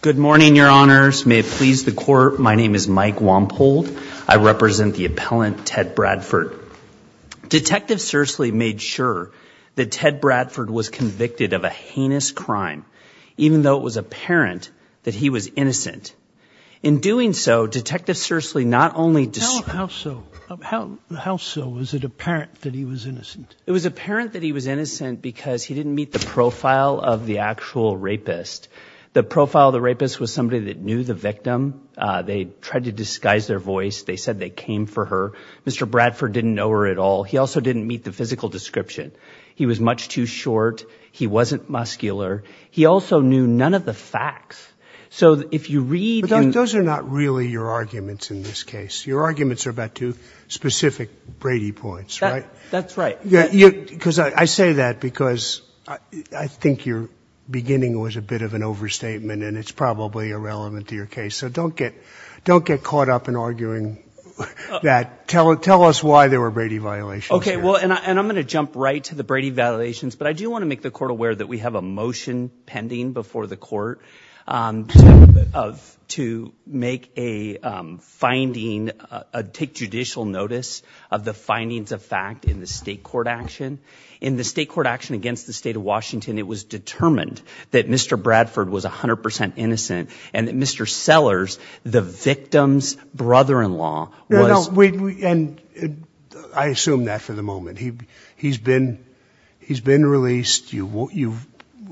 Good morning, your honors. May it please the court, my name is Mike Wampold. I represent the appellant, Ted Bradford. Detective Scherchligt made sure that Ted Bradford was convicted of a heinous crime, even though it was apparent that he was innocent. In doing so, Detective Scherchligt not only... How so? How so? Was it apparent that he was innocent? It was apparent that he was innocent because he didn't meet the profile of the actual rapist. The profile of the rapist was somebody that knew the victim. They tried to disguise their voice. They said they came for her. Mr. Bradford didn't know her at all. He also didn't meet the physical description. He was much too short. He wasn't muscular. He also knew none of the facts. So if you read... But those are not really your arguments in this case. Your arguments are about two specific Brady points, right? That's right. Because I say that because I think your beginning was a bit of an overstatement, and it's probably irrelevant to your case. So don't get caught up in arguing that. Tell us why there were Brady violations. Okay, well, and I'm going to jump right to the Brady violations, but I do want to make the court aware that we have a motion pending before the court to make a finding, take judicial notice of the findings of fact in the state court action. In the state court action against the state of Washington, it was determined that Mr. Bradford was 100% innocent and that Mr. Sellers, the victim's brother-in-law, was... No, no, and I assume that for the moment. He's been released. You've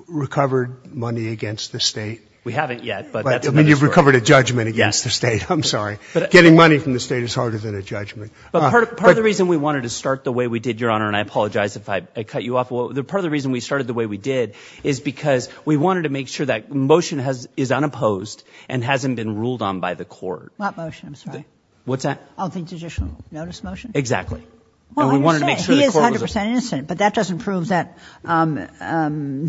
recovered money against the state? We haven't yet, but that's another story. You've recovered a judgment against the state. I'm sorry. Getting money from the state is harder than a judgment. Part of the reason we wanted to start the way we did, Your Honor, and I apologize if I cut you off. Part of the reason we started the way we did is because we wanted to make sure that the motion is unopposed and hasn't been ruled on by the court. What motion? I'm sorry. What's that? I don't think judicial notice motion. Exactly. And we wanted to make sure the court was...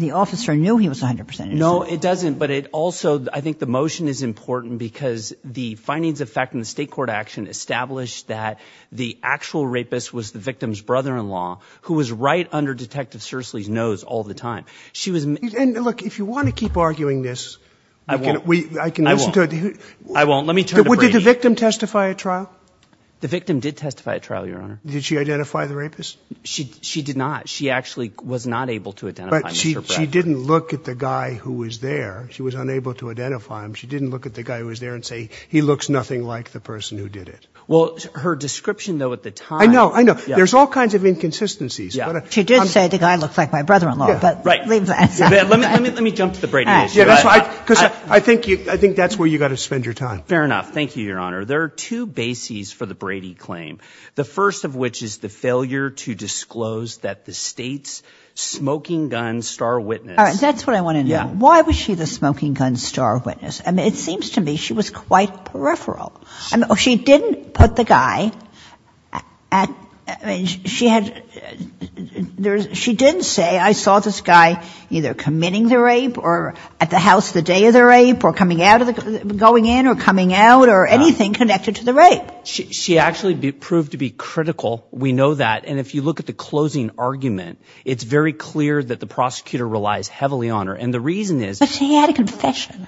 The officer knew he was 100% innocent. No, it doesn't, but it also, I think the motion is important because the findings of fact in the state court action established that the actual rapist was the victim's brother-in-law who was right under Detective Sersely's nose all the time. She was... And look, if you want to keep arguing this... I won't. I can listen to it. I won't. Let me turn to Brady. Did the victim testify at trial? The victim did testify at trial, Your Honor. Did she identify the rapist? She did not. She actually was not able to identify Mr. Brady. But she didn't look at the guy who was there. She was unable to identify him. She didn't look at the guy who was there and say, he looks nothing like the person who did it. Well, her description, though, at the time... I know. I know. There's all kinds of inconsistencies. She did say the guy looks like my brother-in-law, but... Right. Let me jump to the Brady issue. Because I think that's where you've got to spend your time. Fair enough. Thank you, Your Honor. There are two bases for the Brady claim, the first of which is the failure to disclose that the state's smoking gun star witness... All right. That's what I want to know. Yeah. Why was she the smoking gun star witness? I mean, it seems to me she was quite peripheral. She didn't put the guy at... I mean, she had... She didn't say, I saw this guy either committing the rape or at the house the day of the rape or coming out of the... going in or coming out or anything connected to the rape. She actually proved to be critical. We know that. And if you look at the closing argument, it's very clear that the prosecutor relies heavily on her. And the reason is... But she had a confession.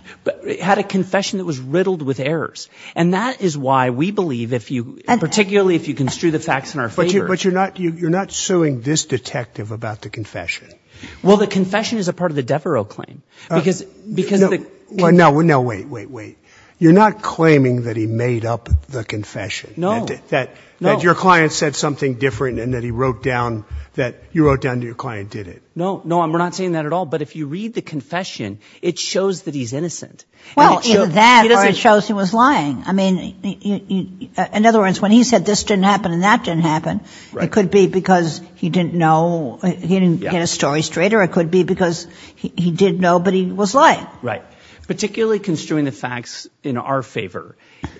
Had a confession that was riddled with errors. And that is why we believe if you, particularly if you construe the facts in our favor... But you're not suing this detective about the confession. Well, the confession is a part of the Devereaux claim. Because the... No, wait, wait, wait. You're not claiming that he made up the confession. No. That your client said something different and that he wrote down... That you wrote down that your client did it. No, no, we're not saying that at all. But if you read the confession, it shows that he's innocent. Well, either that or it shows he was lying. I mean, in other words, when he said this didn't happen and that didn't happen, it could be because he didn't know... He didn't get his story straight or it could be because he did know, but he was lying. Right. Particularly construing the facts in our favor.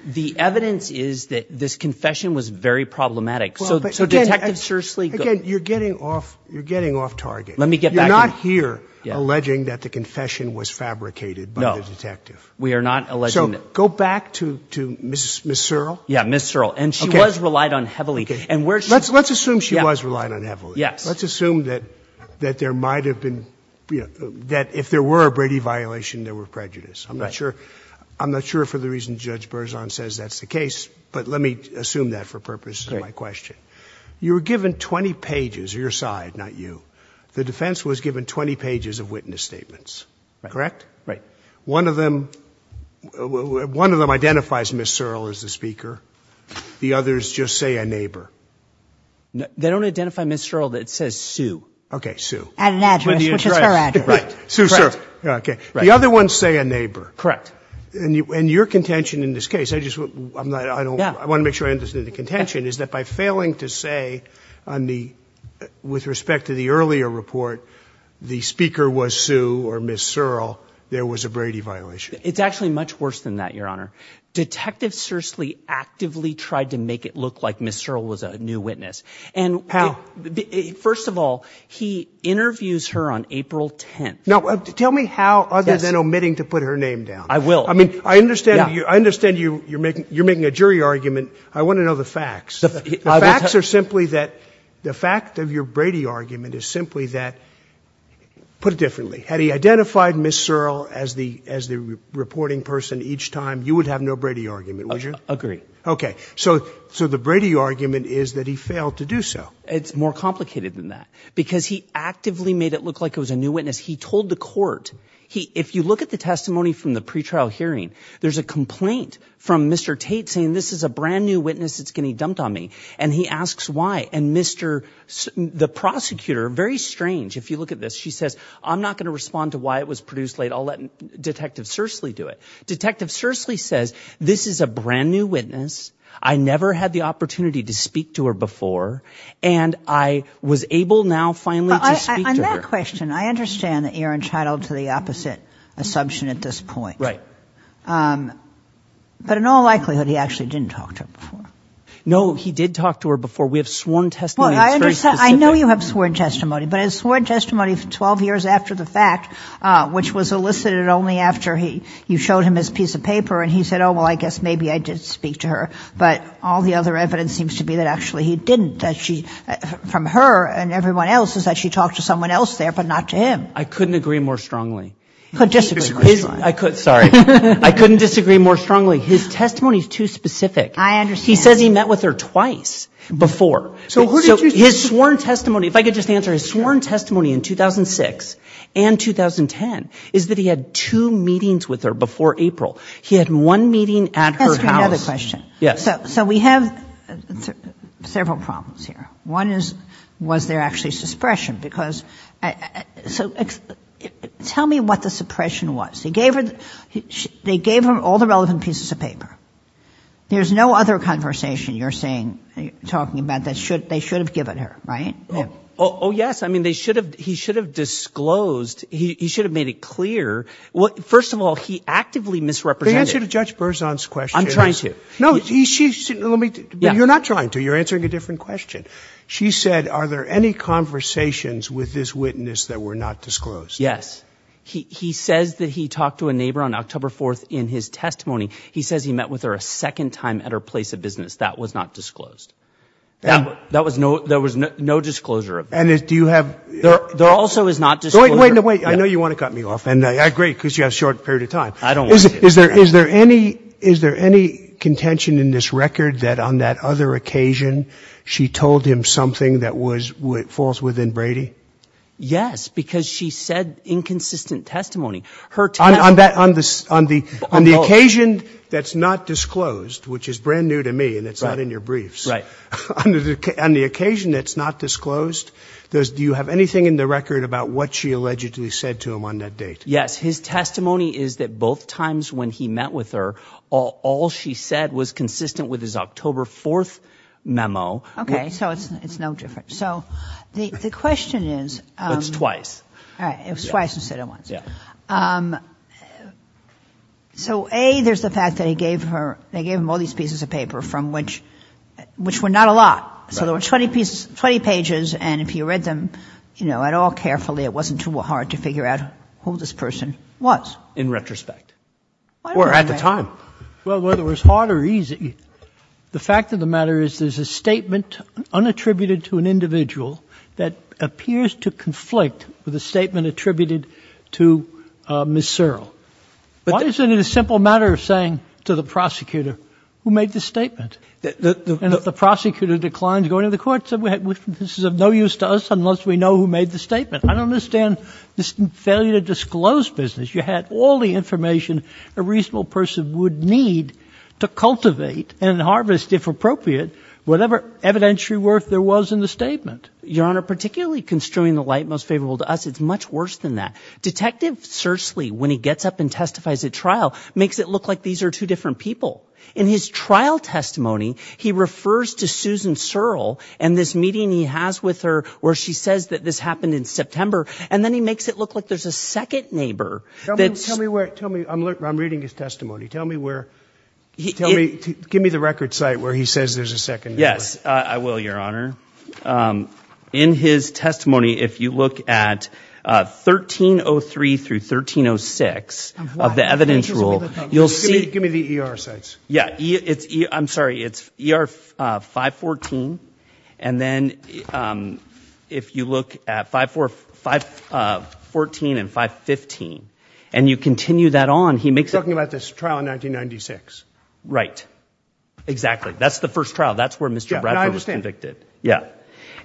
The evidence is that this confession was very problematic. So Detective Shursley... Again, you're getting off target. Let me get back to... You're not here alleging that the confession was fabricated by the detective. No, we are not alleging... So go back to Ms. Searle. Yeah, Ms. Searle. And she was relied on heavily. Let's assume she was relied on heavily. Yes. Let's assume that there might have been... I'm not sure for the reason Judge Berzon says that's the case, but let me assume that for purposes of my question. You were given 20 pages, or your side, not you. The defense was given 20 pages of witness statements. Correct? Right. One of them identifies Ms. Searle as the speaker. The others just say a neighbor. They don't identify Ms. Searle. It says Sue. Okay, Sue. At an address, which is her address. Sue Searle. Okay. The other ones say a neighbor. Correct. And your contention in this case, I want to make sure I understand the contention, is that by failing to say, with respect to the earlier report, the speaker was Sue or Ms. Searle, there was a Brady violation. It's actually much worse than that, Your Honor. Detective Cercily actively tried to make it look like Ms. Searle was a new witness. How? First of all, he interviews her on April 10th. Now, tell me how other than omitting to put her name down. I will. I mean, I understand you're making a jury argument. I want to know the facts. The facts are simply that the fact of your Brady argument is simply that, put it differently, had he identified Ms. Searle as the reporting person each time, you would have no Brady argument, would you? Agreed. Okay. So the Brady argument is that he failed to do so. It's more complicated than that. Because he actively made it look like it was a new witness. He told the court. If you look at the testimony from the pretrial hearing, there's a complaint from Mr. Tate saying this is a brand-new witness that's getting dumped on me. And he asks why. And the prosecutor, very strange, if you look at this, she says, I'm not going to respond to why it was produced late. I'll let Detective Cercily do it. Detective Cercily says, this is a brand-new witness. I never had the opportunity to speak to her before. And I was able now finally to speak to her. On that question, I understand that you're entitled to the opposite assumption at this point. Right. But in all likelihood, he actually didn't talk to her before. No, he did talk to her before. We have sworn testimony that's very specific. I know you have sworn testimony, but I have sworn testimony 12 years after the fact, which was elicited only after you showed him his piece of paper and he said, oh, well, I guess maybe I did speak to her. But all the other evidence seems to be that actually he didn't, that from her and everyone else is that she talked to someone else there but not to him. I couldn't agree more strongly. He could disagree more strongly. Sorry. I couldn't disagree more strongly. His testimony is too specific. I understand. He says he met with her twice before. So his sworn testimony, if I could just answer, his sworn testimony in 2006 and 2010 is that he had two meetings with her before April. He had one meeting at her house. Let me ask you another question. Yes. So we have several problems here. One is, was there actually suppression? Because so tell me what the suppression was. They gave him all the relevant pieces of paper. There's no other conversation you're saying, talking about that they should have given her, right? Oh, yes. I mean, they should have, he should have disclosed, he should have made it clear. First of all, he actively misrepresented. The answer to Judge Berzon's question is. I'm trying to. No. You're not trying to. You're answering a different question. She said, are there any conversations with this witness that were not disclosed? Yes. He says that he talked to a neighbor on October 4th in his testimony. He says he met with her a second time at her place of business. That was not disclosed. There was no disclosure of that. And do you have? There also is not disclosure. Wait. I know you want to cut me off. And I agree because you have a short period of time. I don't want to. Is there any contention in this record that on that other occasion she told him something that was false within Brady? Yes, because she said inconsistent testimony. Her testimony. On the occasion that's not disclosed, which is brand new to me and it's not in your briefs. Right. On the occasion that's not disclosed, do you have anything in the record about what she allegedly said to him on that date? Yes. His testimony is that both times when he met with her, all she said was consistent with his October 4th memo. Okay. So it's no different. So the question is. It's twice. All right. It was twice instead of once. Yeah. So, A, there's the fact that he gave her they gave him all these pieces of paper from which were not a lot. So there were 20 pages. And if you read them, you know, at all carefully, it wasn't too hard to figure out who this person was. In retrospect. Or at the time. Well, whether it was hard or easy, the fact of the matter is there's a statement unattributed to an individual that appears to conflict with a statement attributed to Ms. Searle. Why isn't it a simple matter of saying to the prosecutor who made the statement? And if the prosecutor declines going to the court, this is of no use to us unless we know who made the statement. I don't understand this failure to disclose business. You had all the information a reasonable person would need to cultivate and harvest, if appropriate, whatever evidentiary worth there was in the statement. Your Honor, particularly construing the light most favorable to us, it's much worse than that. Detective Searle, when he gets up and testifies at trial, makes it look like these are two different people. In his trial testimony, he refers to Susan Searle and this meeting he has with her, where she says that this happened in September. And then he makes it look like there's a second neighbor. Tell me where. Tell me. I'm reading his testimony. Tell me where. Tell me. Give me the record site where he says there's a second. Yes, I will, Your Honor. In his testimony, if you look at 1303 through 1306 of the evidence rule, you'll see. Give me the ER sites. Yes. I'm sorry. It's ER 514. And then if you look at 514 and 515 and you continue that on, he makes it. You're talking about this trial in 1996. Right. Exactly. That's the first trial. That's where Mr. Bradford was convicted. I understand. Yes.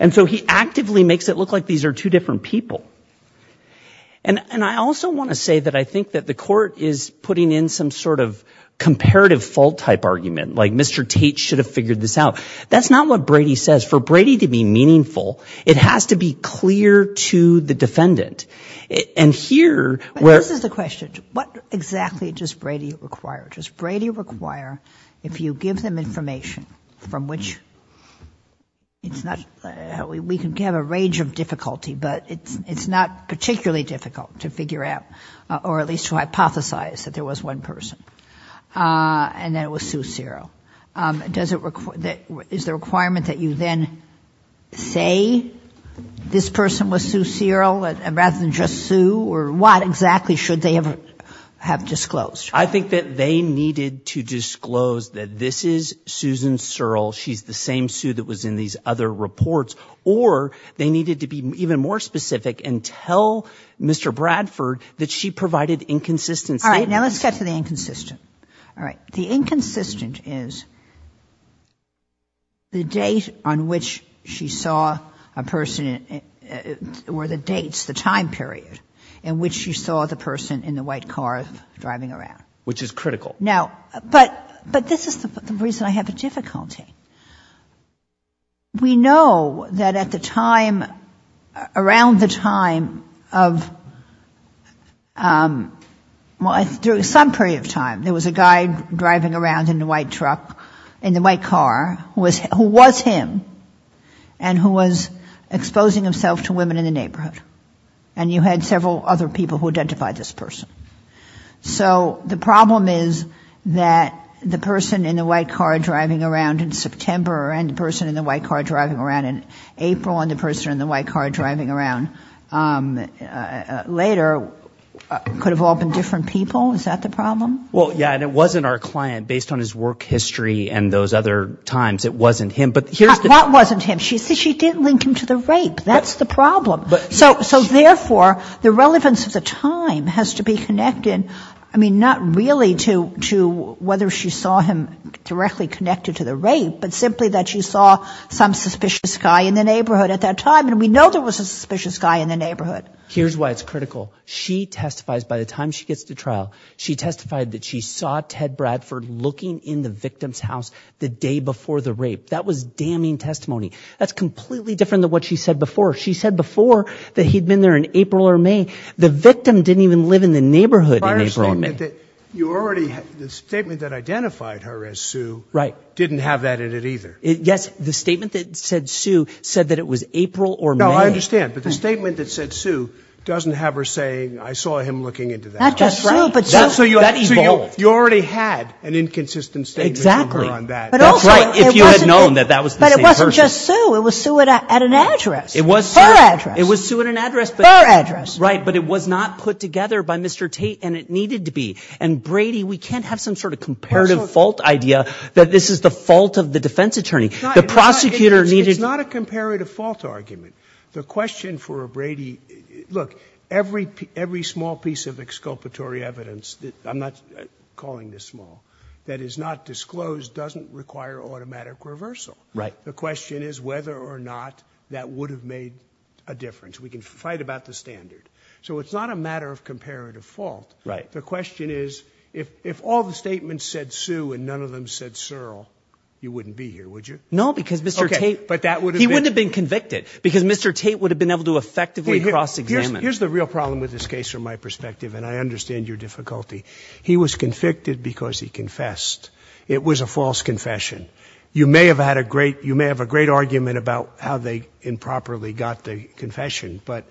And so he actively makes it look like these are two different people. And I also want to say that I think that the court is putting in some sort of comparative fault type argument, like Mr. Tate should have figured this out. That's not what Brady says. For Brady to be meaningful, it has to be clear to the defendant. And here where. This is the question. What exactly does Brady require? Does Brady require if you give them information from which it's not. We can have a range of difficulty, but it's not particularly difficult to figure out or at least to hypothesize that there was one person and that it was Sue Searle. Is the requirement that you then say this person was Sue Searle rather than just Sue? Or what exactly should they have disclosed? I think that they needed to disclose that this is Susan Searle. She's the same Sue that was in these other reports. Or they needed to be even more specific and tell Mr. Bradford that she provided inconsistent statements. All right. Now let's get to the inconsistent. All right. The inconsistent is the date on which she saw a person or the dates, the time period, in which she saw the person in the white car driving around. Which is critical. Now, but this is the reason I have a difficulty. We know that at the time, around the time of, well, during some period of time, there was a guy driving around in the white truck, in the white car, who was him and who was exposing himself to women in the neighborhood. And you had several other people who identified this person. So the problem is that the person in the white car driving around in September and the person in the white car driving around in April and the person in the white car driving around later could have all been different people? Is that the problem? Well, yeah, and it wasn't our client. Based on his work history and those other times, it wasn't him. But here's the problem. That wasn't him. She didn't link him to the rape. That's the problem. So, therefore, the relevance of the time has to be connected, I mean, not really to whether she saw him directly connected to the rape, but simply that she saw some suspicious guy in the neighborhood at that time, and we know there was a suspicious guy in the neighborhood. Here's why it's critical. She testifies, by the time she gets to trial, she testified that she saw Ted Bradford looking in the victim's house the day before the rape. That was damning testimony. That's completely different than what she said before. She said before that he'd been there in April or May. The victim didn't even live in the neighborhood in April or May. The statement that identified her as Sue didn't have that in it either. Yes, the statement that said Sue said that it was April or May. No, I understand, but the statement that said Sue doesn't have her saying, I saw him looking into that house. That's right. So you already had an inconsistent statement from her on that. That's right, if you had known that that was the same person. But it wasn't just Sue. It was Sue at an address. Her address. It was Sue at an address. Her address. Right, but it was not put together by Mr. Tate, and it needed to be. And, Brady, we can't have some sort of comparative fault idea that this is the fault of the defense attorney. The prosecutor needed to – It's not a comparative fault argument. The question for Brady – look, every small piece of exculpatory evidence – I'm not calling this small – that is not disclosed doesn't require automatic reversal. Right. The question is whether or not that would have made a difference. We can fight about the standard. So it's not a matter of comparative fault. Right. The question is if all the statements said Sue and none of them said Searle, you wouldn't be here, would you? No, because Mr. Tate – Okay, but that would have been – He wouldn't have been convicted because Mr. Tate would have been able to effectively cross-examine. Here's the real problem with this case from my perspective, and I understand your difficulty. He was convicted because he confessed. It was a false confession. You may have had a great – you may have a great argument about how they improperly got the confession, but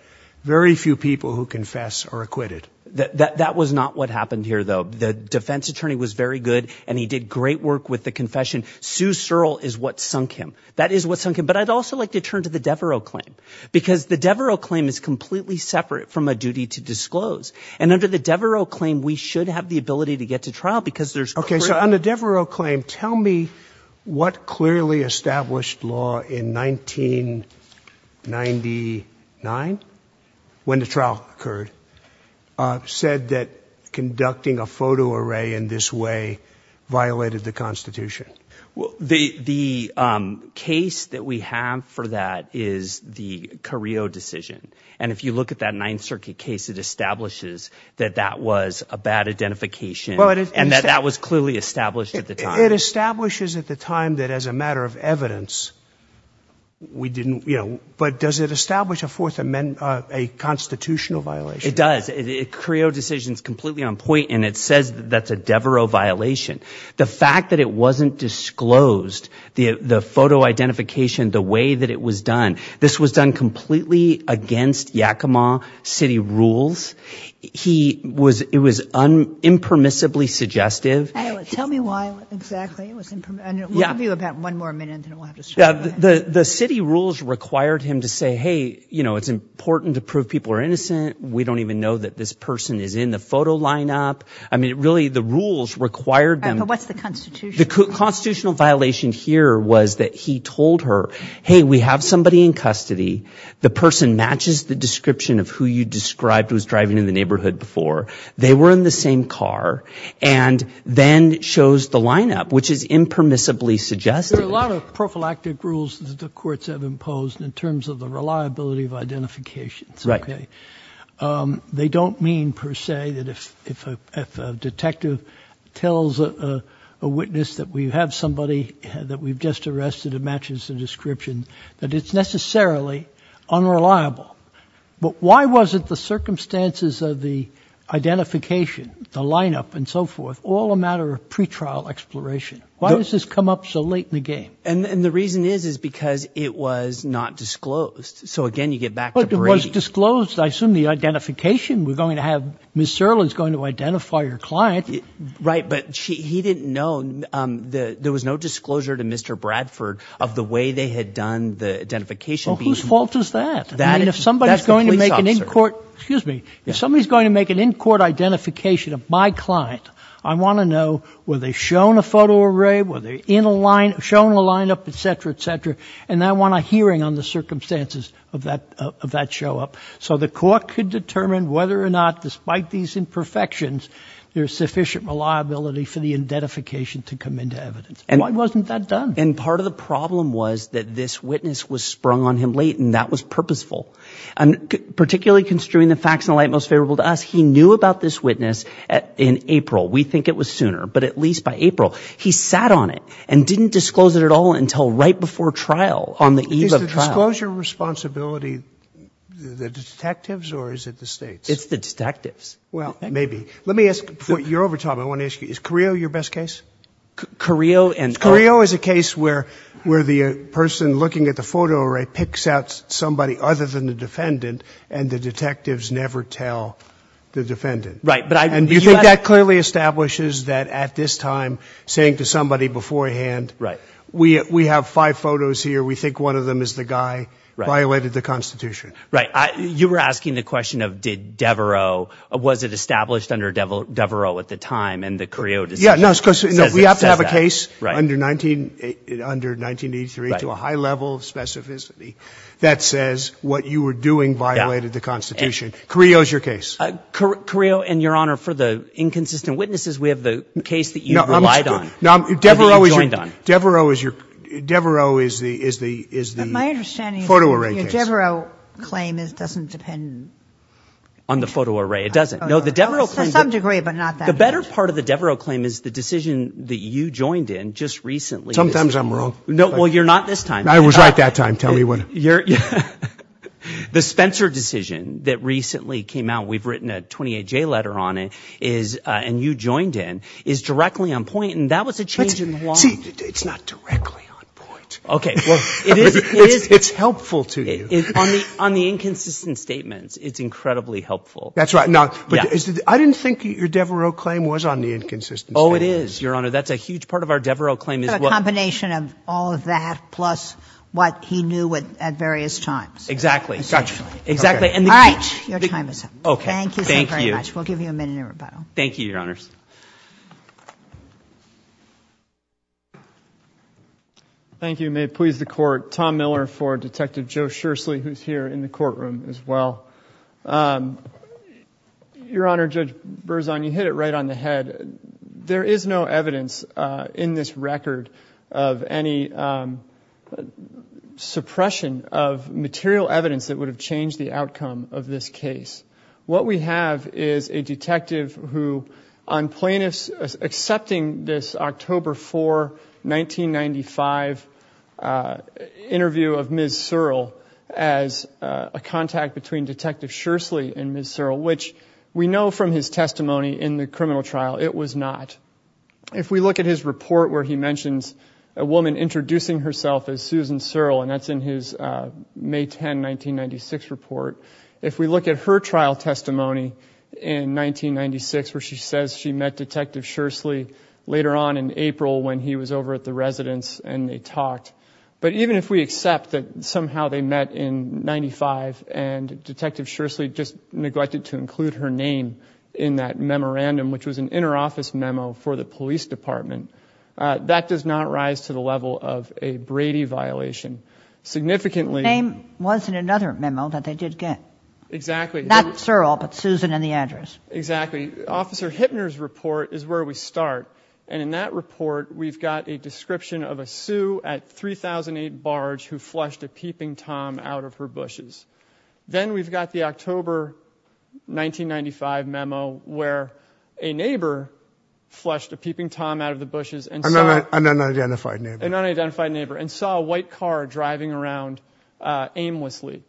very few people who confess are acquitted. That was not what happened here, though. The defense attorney was very good, and he did great work with the confession. Sue Searle is what sunk him. That is what sunk him. But I'd also like to turn to the Devereux claim because the Devereux claim is completely separate from a duty to disclose. And under the Devereux claim, we should have the ability to get to trial because there's – Okay, so on the Devereux claim, tell me what clearly established law in 1999, when the trial occurred, said that conducting a photo array in this way violated the Constitution. The case that we have for that is the Carrillo decision. And if you look at that Ninth Circuit case, it establishes that that was a bad identification and that that was clearly established at the time. It establishes at the time that as a matter of evidence, we didn't – but does it establish a Fourth Amendment – a constitutional violation? It does. The Carrillo decision is completely on point, and it says that that's a Devereux violation. The fact that it wasn't disclosed, the photo identification, the way that it was done, this was done completely against Yakima city rules. He was – it was impermissibly suggestive. Tell me why exactly it was impermissible. We'll give you about one more minute, and then we'll have to stop. The city rules required him to say, hey, you know, it's important to prove people are innocent. We don't even know that this person is in the photo lineup. I mean, really, the rules required them. But what's the constitution? The constitutional violation here was that he told her, hey, we have somebody in custody. The person matches the description of who you described was driving in the neighborhood before. They were in the same car, and then shows the lineup, which is impermissibly suggestive. There are a lot of prophylactic rules that the courts have imposed in terms of the reliability of identifications. Right. They don't mean per se that if a detective tells a witness that we have somebody that we've just arrested and matches the description, that it's necessarily unreliable. But why wasn't the circumstances of the identification, the lineup and so forth, all a matter of pretrial exploration? Why does this come up so late in the game? And the reason is, is because it was not disclosed. So, again, you get back to Brady. But it was disclosed. I assume the identification we're going to have – Ms. Serlin's going to identify your client. Right. But he didn't know – there was no disclosure to Mr. Bradford of the way they had done the identification. Well, whose fault is that? That's the police officer. I mean, if somebody's going to make an in-court – excuse me. If somebody's going to make an in-court identification of my client, I want to know, were they shown a photo array? Were they shown a lineup, et cetera, et cetera? And I want a hearing on the circumstances of that show-up. So the court could determine whether or not, despite these imperfections, there's sufficient reliability for the identification to come into evidence. Why wasn't that done? And part of the problem was that this witness was sprung on him late, and that was purposeful. And particularly construing the facts in the light most favorable to us, he knew about this witness in April. We think it was sooner, but at least by April. He sat on it and didn't disclose it at all until right before trial on the eve of trial. Did he disclose your responsibility, the detectives, or is it the states? It's the detectives. Well, maybe. Let me ask – you're over time. I want to ask you, is Carrillo your best case? Carrillo and – Carrillo is a case where the person looking at the photo array picks out somebody other than the defendant, and the detectives never tell the defendant. Right, but I – And do you think that clearly establishes that at this time, saying to somebody beforehand – Right. We have five photos here. We think one of them is the guy who violated the Constitution. Right. You were asking the question of did Devereaux – was it established under Devereaux at the time, and the Carrillo decision says that. Yeah, no, because we have to have a case under 1983 to a high level of specificity that says what you were doing violated the Constitution. Carrillo is your case. Carrillo, and, Your Honor, for the inconsistent witnesses, we have the case that you relied on. Devereaux is the photo array case. My understanding is that your Devereaux claim doesn't depend on the photo array. It doesn't. To some degree, but not that much. The better part of the Devereaux claim is the decision that you joined in just recently. Sometimes I'm wrong. Well, you're not this time. I was right that time. Tell me when. The Spencer decision that recently came out, we've written a 28-J letter on it, and you joined in, is directly on point, and that was a change in the law. See, it's not directly on point. Okay. It's helpful to you. On the inconsistent statements, it's incredibly helpful. That's right. Now, I didn't think your Devereaux claim was on the inconsistent statements. Oh, it is, Your Honor. That's a huge part of our Devereaux claim. It's a combination of all of that plus what he knew at various times. Exactly. Essentially. All right. Your time is up. Thank you so very much. We'll give you a minute in rebuttal. Thank you, Your Honors. Thank you. May it please the Court. Tom Miller for Detective Joe Shursley, who's here in the courtroom as well. Your Honor, Judge Berzon, you hit it right on the head. There is no evidence in this record of any suppression of material evidence that would have changed the outcome of this case. What we have is a detective who, on plaintiffs accepting this October 4, 1995, interview of Ms. Searle as a contact between Detective Shursley and Ms. Searle, which we know from his testimony in the criminal trial, it was not. If we look at his report where he mentions a woman introducing herself as Susan Searle, and that's in his May 10, 1996 report, if we look at her trial testimony in 1996 where she says she met Detective Shursley later on in April when he was over at the residence and they talked, but even if we accept that somehow they met in 1995 and Detective Shursley just neglected to include her name in that memorandum, which was an inner office memo for the police department, that does not rise to the level of a Brady violation. Significantly... The name was in another memo that they did get. Exactly. Not Searle, but Susan and the address. Exactly. Officer Hittner's report is where we start, and in that report we've got a description of a sue at 3008 Barge who flushed a peeping tom out of her bushes. Then we've got the October 1995 memo where a neighbor flushed a peeping tom out of the bushes and saw... An unidentified neighbor. An unidentified neighbor, and saw a white car driving around aimlessly.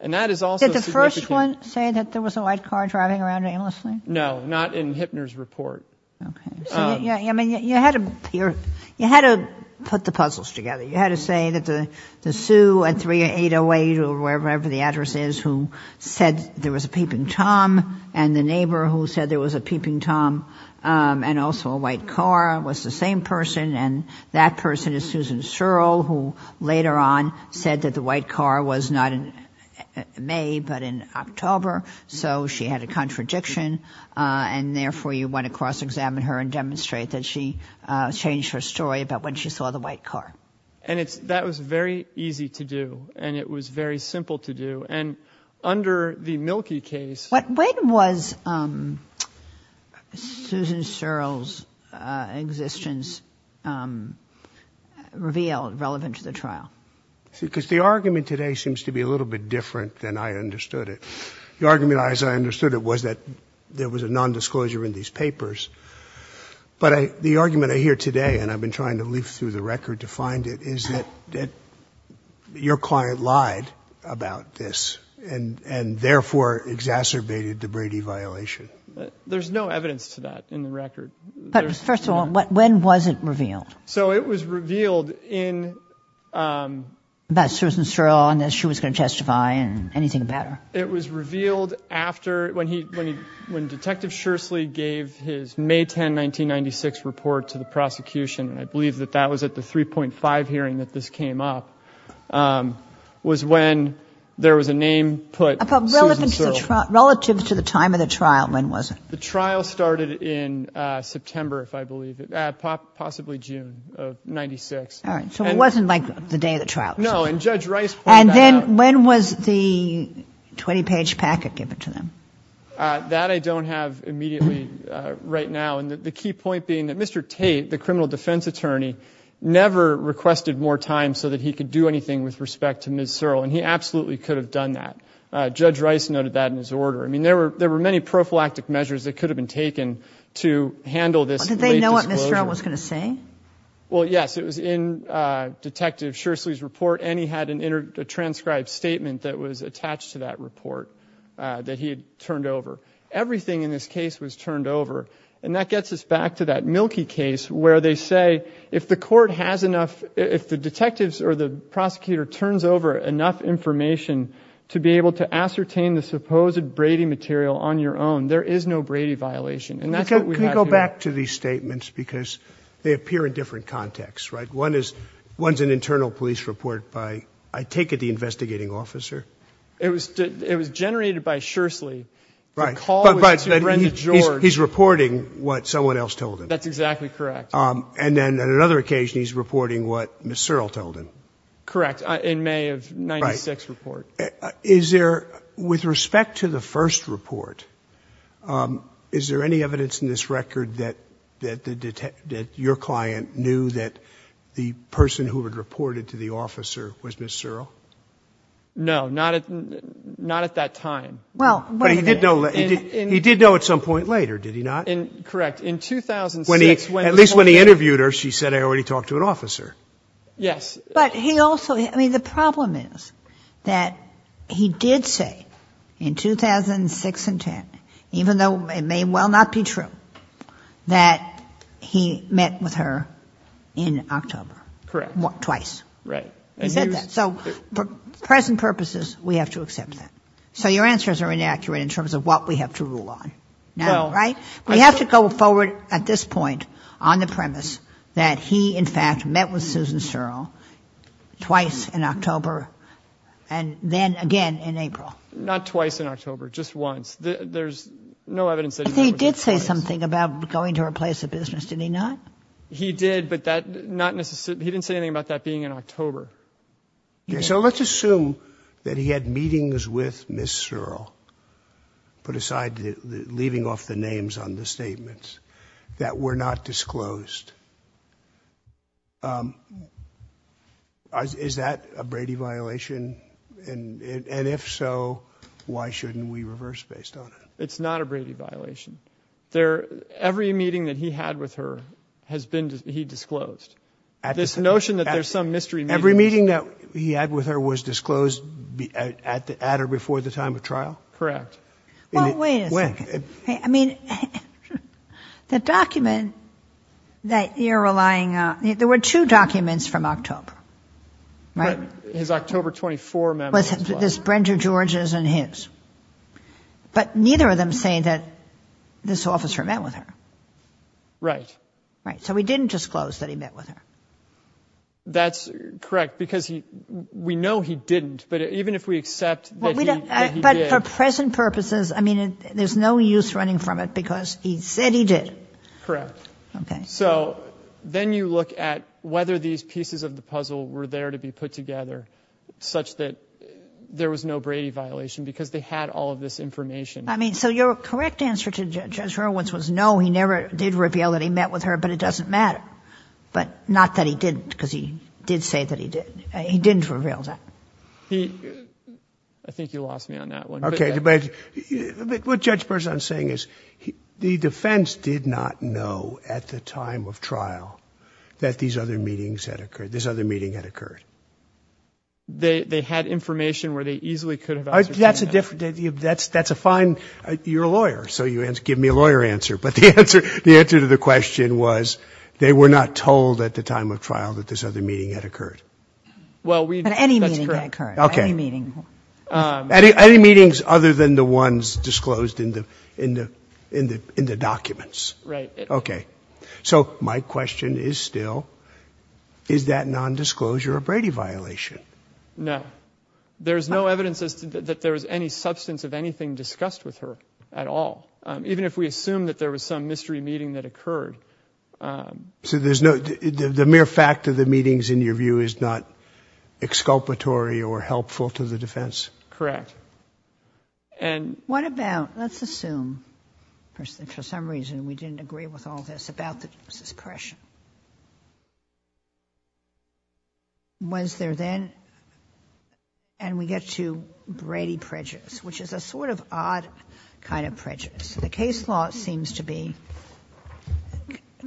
And that is also significant... Did the first one say that there was a white car driving around aimlessly? No, not in Hittner's report. Okay. I mean, you had to put the puzzles together. You had to say that the sue at 3008 or wherever the address is who said there was a peeping tom, and the neighbor who said there was a peeping tom and also a white car was the same person, and that person is Susan Searle who later on said that the white car was not in May but in October, so she had a contradiction, and therefore you want to cross-examine her and demonstrate that she changed her story about when she saw the white car. And that was very easy to do, and it was very simple to do, and under the Mielke case... When was Susan Searle's existence revealed relevant to the trial? Because the argument today seems to be a little bit different than I understood it. The argument as I understood it was that there was a nondisclosure in these papers, but the argument I hear today, and I've been trying to leaf through the record to find it, is that your client lied about this and therefore exacerbated the Brady violation. There's no evidence to that in the record. But first of all, when was it revealed? So it was revealed in... About Susan Searle and that she was going to testify and anything about her. It was revealed after, when Detective Shursley gave his May 10, 1996 report to the prosecution, and I believe that that was at the 3.5 hearing that this came up, was when there was a name put, Susan Searle. Relative to the time of the trial, when was it? The trial started in September, if I believe, possibly June of 1996. All right, so it wasn't like the day of the trial. No, and Judge Rice pointed that out. And then when was the 20-page packet given to them? That I don't have immediately right now, and the key point being that Mr. Tate, the criminal defense attorney, never requested more time so that he could do anything with respect to Ms. Searle, and he absolutely could have done that. Judge Rice noted that in his order. I mean, there were many prophylactic measures that could have been taken to handle this late disclosure. Did they know what Ms. Searle was going to say? Well, yes. It was in Detective Shursley's report, and he had an intertranscribed statement that was attached to that report that he had turned over. Everything in this case was turned over, and that gets us back to that Milky case where they say if the court has enough, if the detectives or the prosecutor turns over enough information to be able to ascertain the supposed Brady material on your own, there is no Brady violation, and that's what we have here. Can we go back to these statements because they appear in different contexts, right? One is an internal police report by, I take it, the investigating officer. It was generated by Shursley. Right, but he's reporting what someone else told him. That's exactly correct. And then on another occasion, he's reporting what Ms. Searle told him. Correct, in May of 1996 report. Is there, with respect to the first report, is there any evidence in this record that your client knew that the person who had reported to the officer was Ms. Searle? No, not at that time. Well, wait a minute. But he did know at some point later, did he not? Correct. In 2006, when he told him. At least when he interviewed her, she said, I already talked to an officer. Yes. But he also, I mean, the problem is that he did say in 2006 and 2010, even though it may well not be true, that he met with her in October. Correct. Twice. Right. He said that. So for present purposes, we have to accept that. So your answers are inaccurate in terms of what we have to rule on now, right? We have to go forward at this point on the premise that he, in fact, met with Susan Searle twice in October and then again in April. Not twice in October. Just once. There's no evidence that he met with her twice. But he did say something about going to her place of business, did he not? He did, but that not necessarily, he didn't say anything about that being in October. So let's assume that he had meetings with Ms. Searle, put aside, leaving off the names on the statements, that were not disclosed. Is that a Brady violation? And if so, why shouldn't we reverse based on it? It's not a Brady violation. Every meeting that he had with her has been, he disclosed. This notion that there's some mystery. Every meeting that he had with her was disclosed at or before the time of trial? Correct. Well, wait a second. When? I mean, the document that you're relying on, there were two documents from October, right? His October 24 memo as well. This Brenda George's and his. But neither of them say that this officer met with her. Right. So he didn't disclose that he met with her. That's correct, because we know he didn't. But even if we accept that he did. But for present purposes, I mean, there's no use running from it, because he said he did. Correct. Okay. So then you look at whether these pieces of the puzzle were there to be put together, such that there was no Brady violation, because they had all of this information. I mean, so your correct answer to Judge Hurwitz was no, he never did reveal that he met with her, but it doesn't matter. But not that he didn't, because he did say that he did. He didn't reveal that. I think you lost me on that one. Okay. But what Judge Berzahn is saying is the defense did not know at the time of trial that these other meetings had occurred, this other meeting had occurred. They had information where they easily could have ascertained that. That's a fine, you're a lawyer, so you give me a lawyer answer. But the answer to the question was they were not told at the time of trial that this other meeting had occurred. But any meeting had occurred. Okay. Any meeting. Any meetings other than the ones disclosed in the documents. Right. Okay. So my question is still, is that nondisclosure a Brady violation? No. There's no evidence that there was any substance of anything discussed with her at all, even if we assume that there was some mystery meeting that occurred. So there's no, the mere fact of the meetings in your view is not exculpatory or helpful to the defense? Correct. And what about, let's assume for some reason we didn't agree with all this about the discretion. Was there then, and we get to Brady prejudice, which is a sort of odd kind of prejudice. The case law seems to be,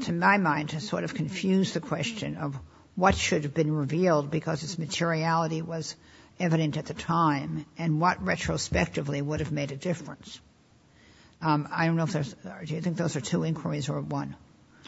to my mind, to sort of confuse the question of what should have been revealed because its materiality was evident at the time and what retrospectively would have made a difference. I don't know if there's, do you think those are two inquiries or one?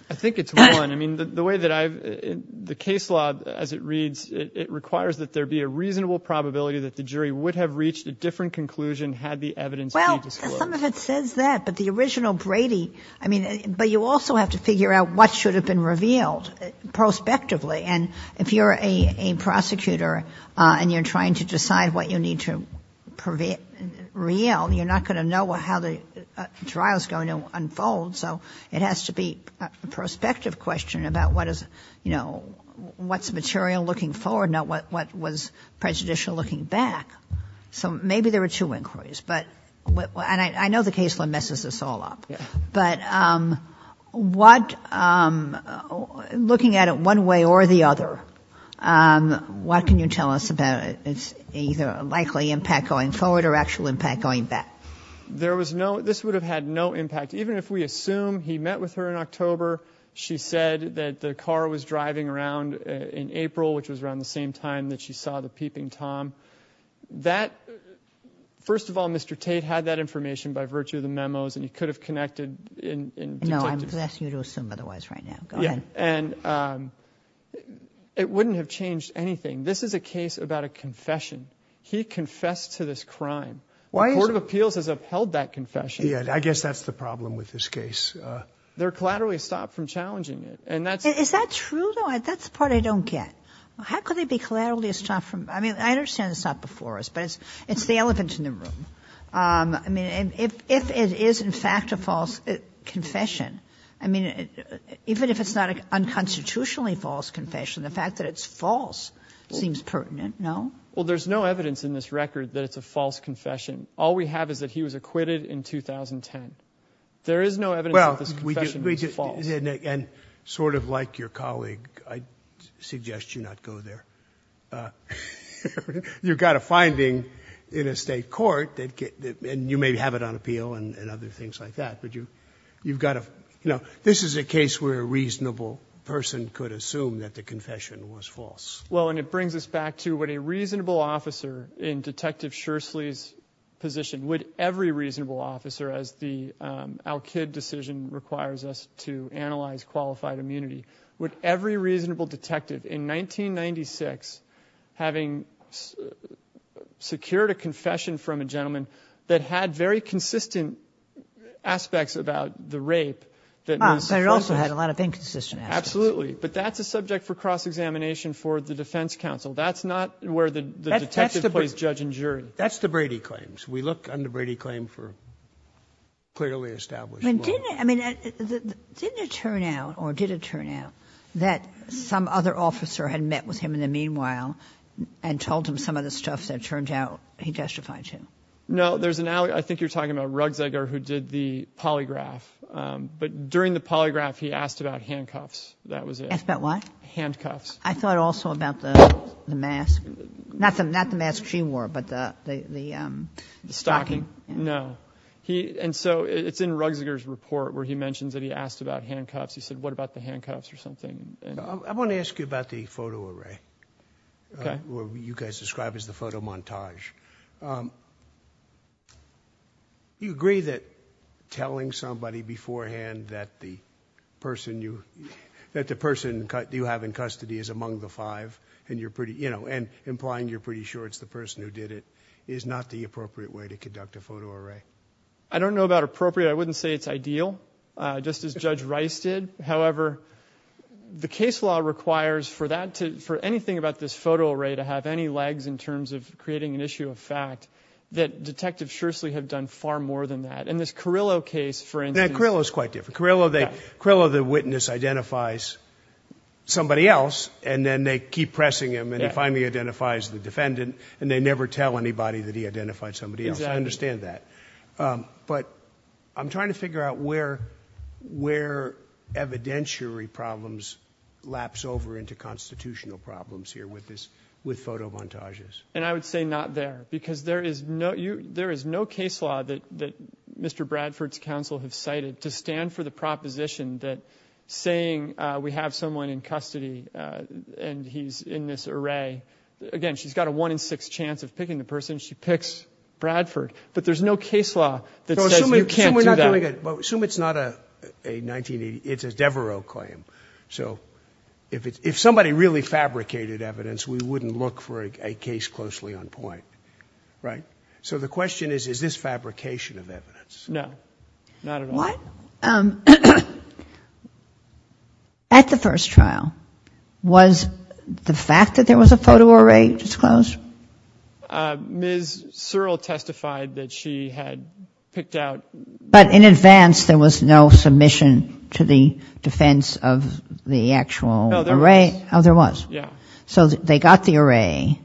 I think it's one. I mean, the way that I've, the case law as it reads, it requires that there be a reasonable probability that the jury would have reached a different conclusion had the evidence been disclosed. Well, some of it says that, but the original Brady, I mean, but you also have to figure out what should have been revealed prospectively. And if you're a prosecutor and you're trying to decide what you need to reveal, you're not going to know how the trial is going to unfold. So it has to be a prospective question about what is, you know, what's material looking forward, not what was prejudicial looking back. So maybe there were two inquiries. But, and I know the case law messes this all up. But what, looking at it one way or the other, what can you tell us about its either likely impact going forward or actual impact going back? There was no, this would have had no impact. Even if we assume he met with her in October. She said that the car was driving around in April, which was around the same time that she saw the peeping Tom that first of all, Mr. Tate had that information by virtue of the memos and he could have connected in. No, I'm asking you to assume otherwise right now. And it wouldn't have changed anything. This is a case about a confession. He confessed to this crime. The court of appeals has upheld that confession. I guess that's the problem with this case. They're collaterally stopped from challenging it. And that's. Is that true though? That's the part I don't get. How could they be collateral to stop from? I mean, I understand it's not before us, but it's, it's the elephant in the room. I mean, if, if it is in fact a false confession, I mean, even if it's not an unconstitutionally false confession, the fact that it's false seems pertinent. No. Well, there's no evidence in this record that it's a false confession. All we have is that he was acquitted in 2010. There is no evidence that this confession was false. And sort of like your colleague, I suggest you not go there. You've got a finding in a state court that you may have it on appeal and other things like that. But you, you've got to, you know, this is a case where a reasonable person could assume that the confession was false. Well, and it brings us back to what a reasonable officer in detective Shirsley's position, would every reasonable officer as the Al-Kid decision requires us to analyze qualified immunity, would every reasonable detective in 1996, having secured a confession from a gentleman that had very consistent aspects about the rape. They also had a lot of inconsistent. Absolutely. But that's a subject for cross-examination for the defense counsel. That's not where the detective plays judge and jury. That's the Brady claims. We look under Brady claim for clearly established. I mean, didn't it turn out or did it turn out that some other officer had met with him in the meanwhile and told him some of the stuff that turned out he testified to? No, there's an, I think you're talking about Ruggsegger who did the polygraph. But during the polygraph, he asked about handcuffs. That was it. Asked about what? Handcuffs. I thought also about the mask. Not the mask she wore, but the stocking. No. And so it's in Ruggsegger's report where he mentions that he asked about handcuffs. He said, what about the handcuffs or something. I want to ask you about the photo array, what you guys describe as the photo montage. You agree that telling somebody beforehand that the person you have in custody is among the five and implying you're pretty sure it's the person who did it is not the appropriate way to conduct a photo array? I don't know about appropriate. I wouldn't say it's ideal, just as Judge Rice did. However, the case law requires for anything about this photo array to have any legs in terms of creating an issue of fact that Detective Shursley had done far more than that. And this Carrillo case, for instance. Carrillo is quite different. Carrillo, the witness identifies somebody else and then they keep pressing him and he finally identifies the defendant and they never tell anybody that he identified somebody else. I understand that. But I'm trying to figure out where evidentiary problems lapse over into constitutional problems here with photo montages. And I would say not there because there is no case law that Mr. Bradford's counsel has cited to stand for the proposition that saying we have someone in custody and he's in this array. Again, she's got a one in six chance of picking the person. She picks Bradford. But there's no case law that says you can't do that. Assume it's not a 1980. It's a Devereux claim. So if somebody really fabricated evidence, we wouldn't look for a case closely on point. Right? So the question is, is this fabrication of evidence? No. Not at all. What at the first trial? Was the fact that there was a photo array disclosed? Ms. Searle testified that she had picked out. But in advance there was no submission to the defense of the actual array? No, there was. Oh, there was. Yeah. So they got the array.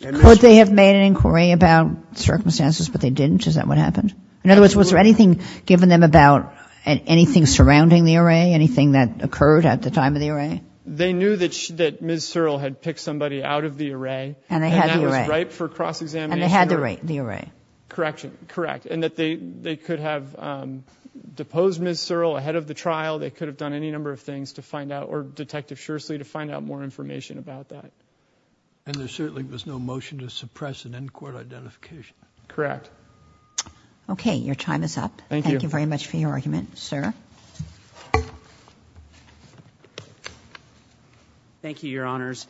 Could they have made an inquiry about circumstances but they didn't? Is that what happened? In other words, was there anything given them about anything surrounding the array, anything that occurred at the time of the array? They knew that Ms. Searle had picked somebody out of the array. And they had the array. And that was ripe for cross-examination. And they had the array. Correct. And that they could have deposed Ms. Searle ahead of the trial. They could have done any number of things to find out, or Detective Shursley to find out more information about that. And there certainly was no motion to suppress an in-court identification. Correct. Okay. Your time is up. Thank you. Thank you very much for your argument, sir. Thank you, Your Honors.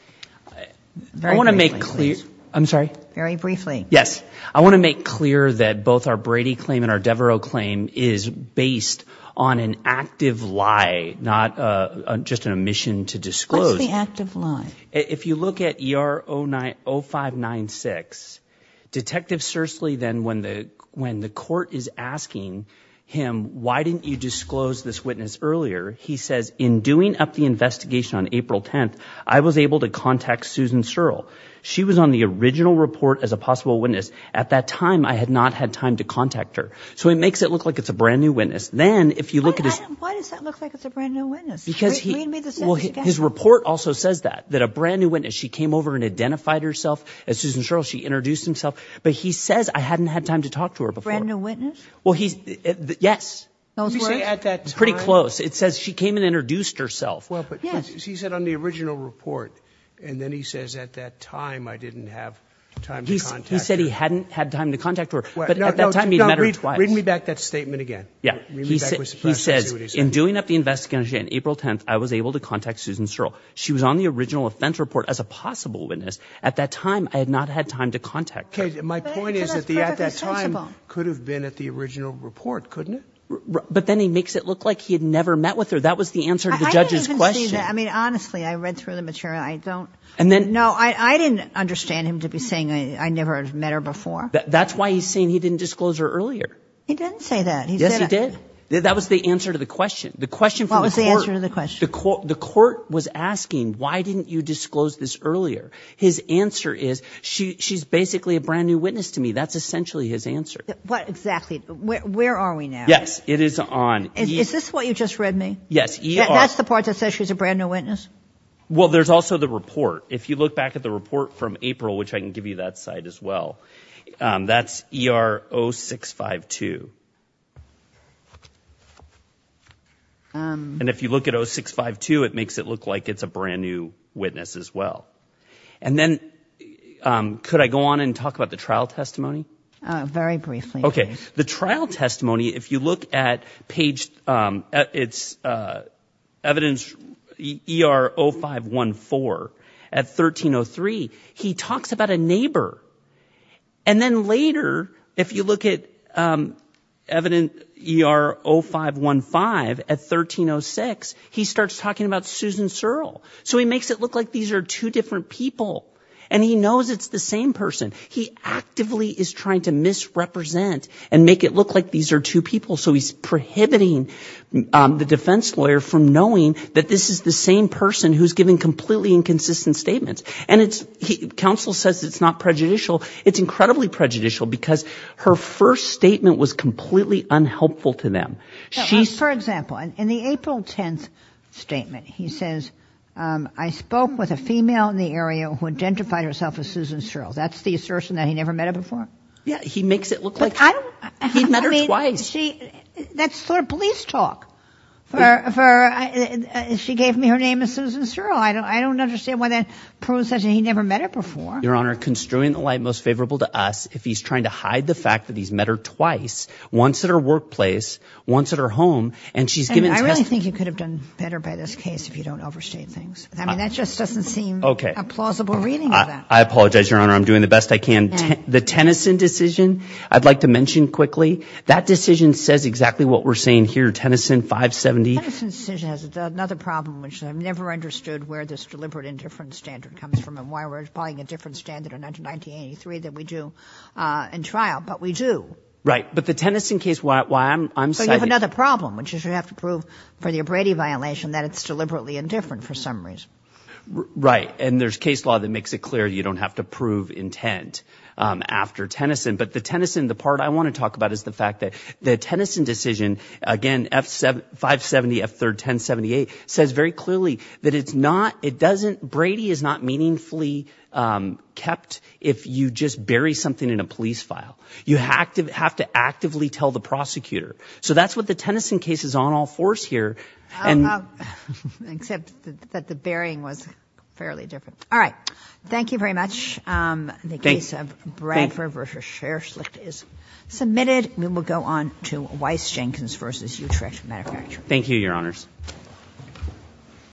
Very briefly, please. I want to make clear. I'm sorry? Very briefly. Yes. I want to make clear that both our Brady claim and our Devereux claim is based on an active lie, not just an omission to disclose. What's the active lie? If you look at ER 0596, Detective Shursley then, when the court is asking him, why didn't you disclose this witness earlier, he says, in doing up the investigation on April 10th, I was able to contact Susan Searle. She was on the original report as a possible witness. At that time, I had not had time to contact her. So he makes it look like it's a brand-new witness. Then, if you look at his – Why does that look like it's a brand-new witness? Because he – Read me the sentence again. Well, his report also says that, that a brand-new witness. She came over and identified herself as Susan Searle. She introduced herself. But he says, I hadn't had time to talk to her before. Brand-new witness? Well, he's – yes. Those words? You say, at that time? Pretty close. It says, she came and introduced herself. Well, but he said on the original report, and then he says, at that time, I didn't have time to contact her. He said he hadn't had time to contact her. But at that time, he'd met her twice. Read me back that statement again. Yeah. Read me back what's the practice. He says, in doing up the investigation on April 10th, I was able to contact Susan Searle. She was on the original offense report as a possible witness. At that time, I had not had time to contact her. Okay. My point is that at that time could have been at the original report, couldn't it? But then he makes it look like he had never met with her. That was the answer to the judge's question. I didn't even say that. I mean, honestly, I read through the material. I don't – no, I didn't understand him to be saying I never met her before. That's why he's saying he didn't disclose her earlier. He didn't say that. Yes, he did. That was the answer to the question. The question from the court. What was the answer to the question? The court was asking, why didn't you disclose this earlier? His answer is she's basically a brand-new witness to me. That's essentially his answer. Exactly. Where are we now? Yes. It is on – Is this what you just read me? Yes. That's the part that says she's a brand-new witness? Well, there's also the report. If you look back at the report from April, which I can give you that side as well, that's ER 0652. And if you look at 0652, it makes it look like it's a brand-new witness as well. And then could I go on and talk about the trial testimony? Very briefly. Okay. The trial testimony, if you look at page – it's evidence ER 0514 at 1303, he talks about a neighbor. And then later, if you look at evidence ER 0515 at 1306, he starts talking about Susan Searle. So he makes it look like these are two different people. And he knows it's the same person. He actively is trying to misrepresent and make it look like these are two people. So he's prohibiting the defense lawyer from knowing that this is the same person who's giving completely inconsistent statements. And counsel says it's not prejudicial. It's incredibly prejudicial because her first statement was completely unhelpful to them. For example, in the April 10th statement, he says, I spoke with a female in the area who identified herself as Susan Searle. That's the assertion that he never met her before? Yeah, he makes it look like he met her twice. That's sort of police talk. She gave me her name as Susan Searle. I don't understand why that proves that he never met her before. Your Honor, construing the light most favorable to us, if he's trying to hide the fact that he's met her twice, once at her workplace, once at her home, and she's given testimony. I really think you could have done better by this case if you don't overstate things. I mean, that just doesn't seem a plausible reading of that. I apologize, Your Honor. I'm doing the best I can. The Tennyson decision, I'd like to mention quickly, that decision says exactly what we're saying here, Tennyson 570. The Tennyson decision has another problem, which I've never understood where this deliberate indifference standard comes from and why we're applying a different standard in 1983 than we do in trial, but we do. Right, but the Tennyson case, why I'm citing it. So you have another problem, which is you have to prove for the O'Brady violation that it's deliberately indifferent for some reason. Right, and there's case law that makes it clear you don't have to prove intent after Tennyson, but the Tennyson, the part I want to talk about is the fact that the Tennyson decision, again, 570, F3rd, 1078, says very clearly that it's not, it doesn't, Brady is not meaningfully kept if you just bury something in a police file. You have to actively tell the prosecutor. So that's what the Tennyson case is on all fours here. Except that the burying was fairly different. All right. Thank you very much. The case of Bradford v. Sherslick is submitted. We will go on to Weiss-Jenkins v. Utrecht Manufacturing. Thank you, Your Honors.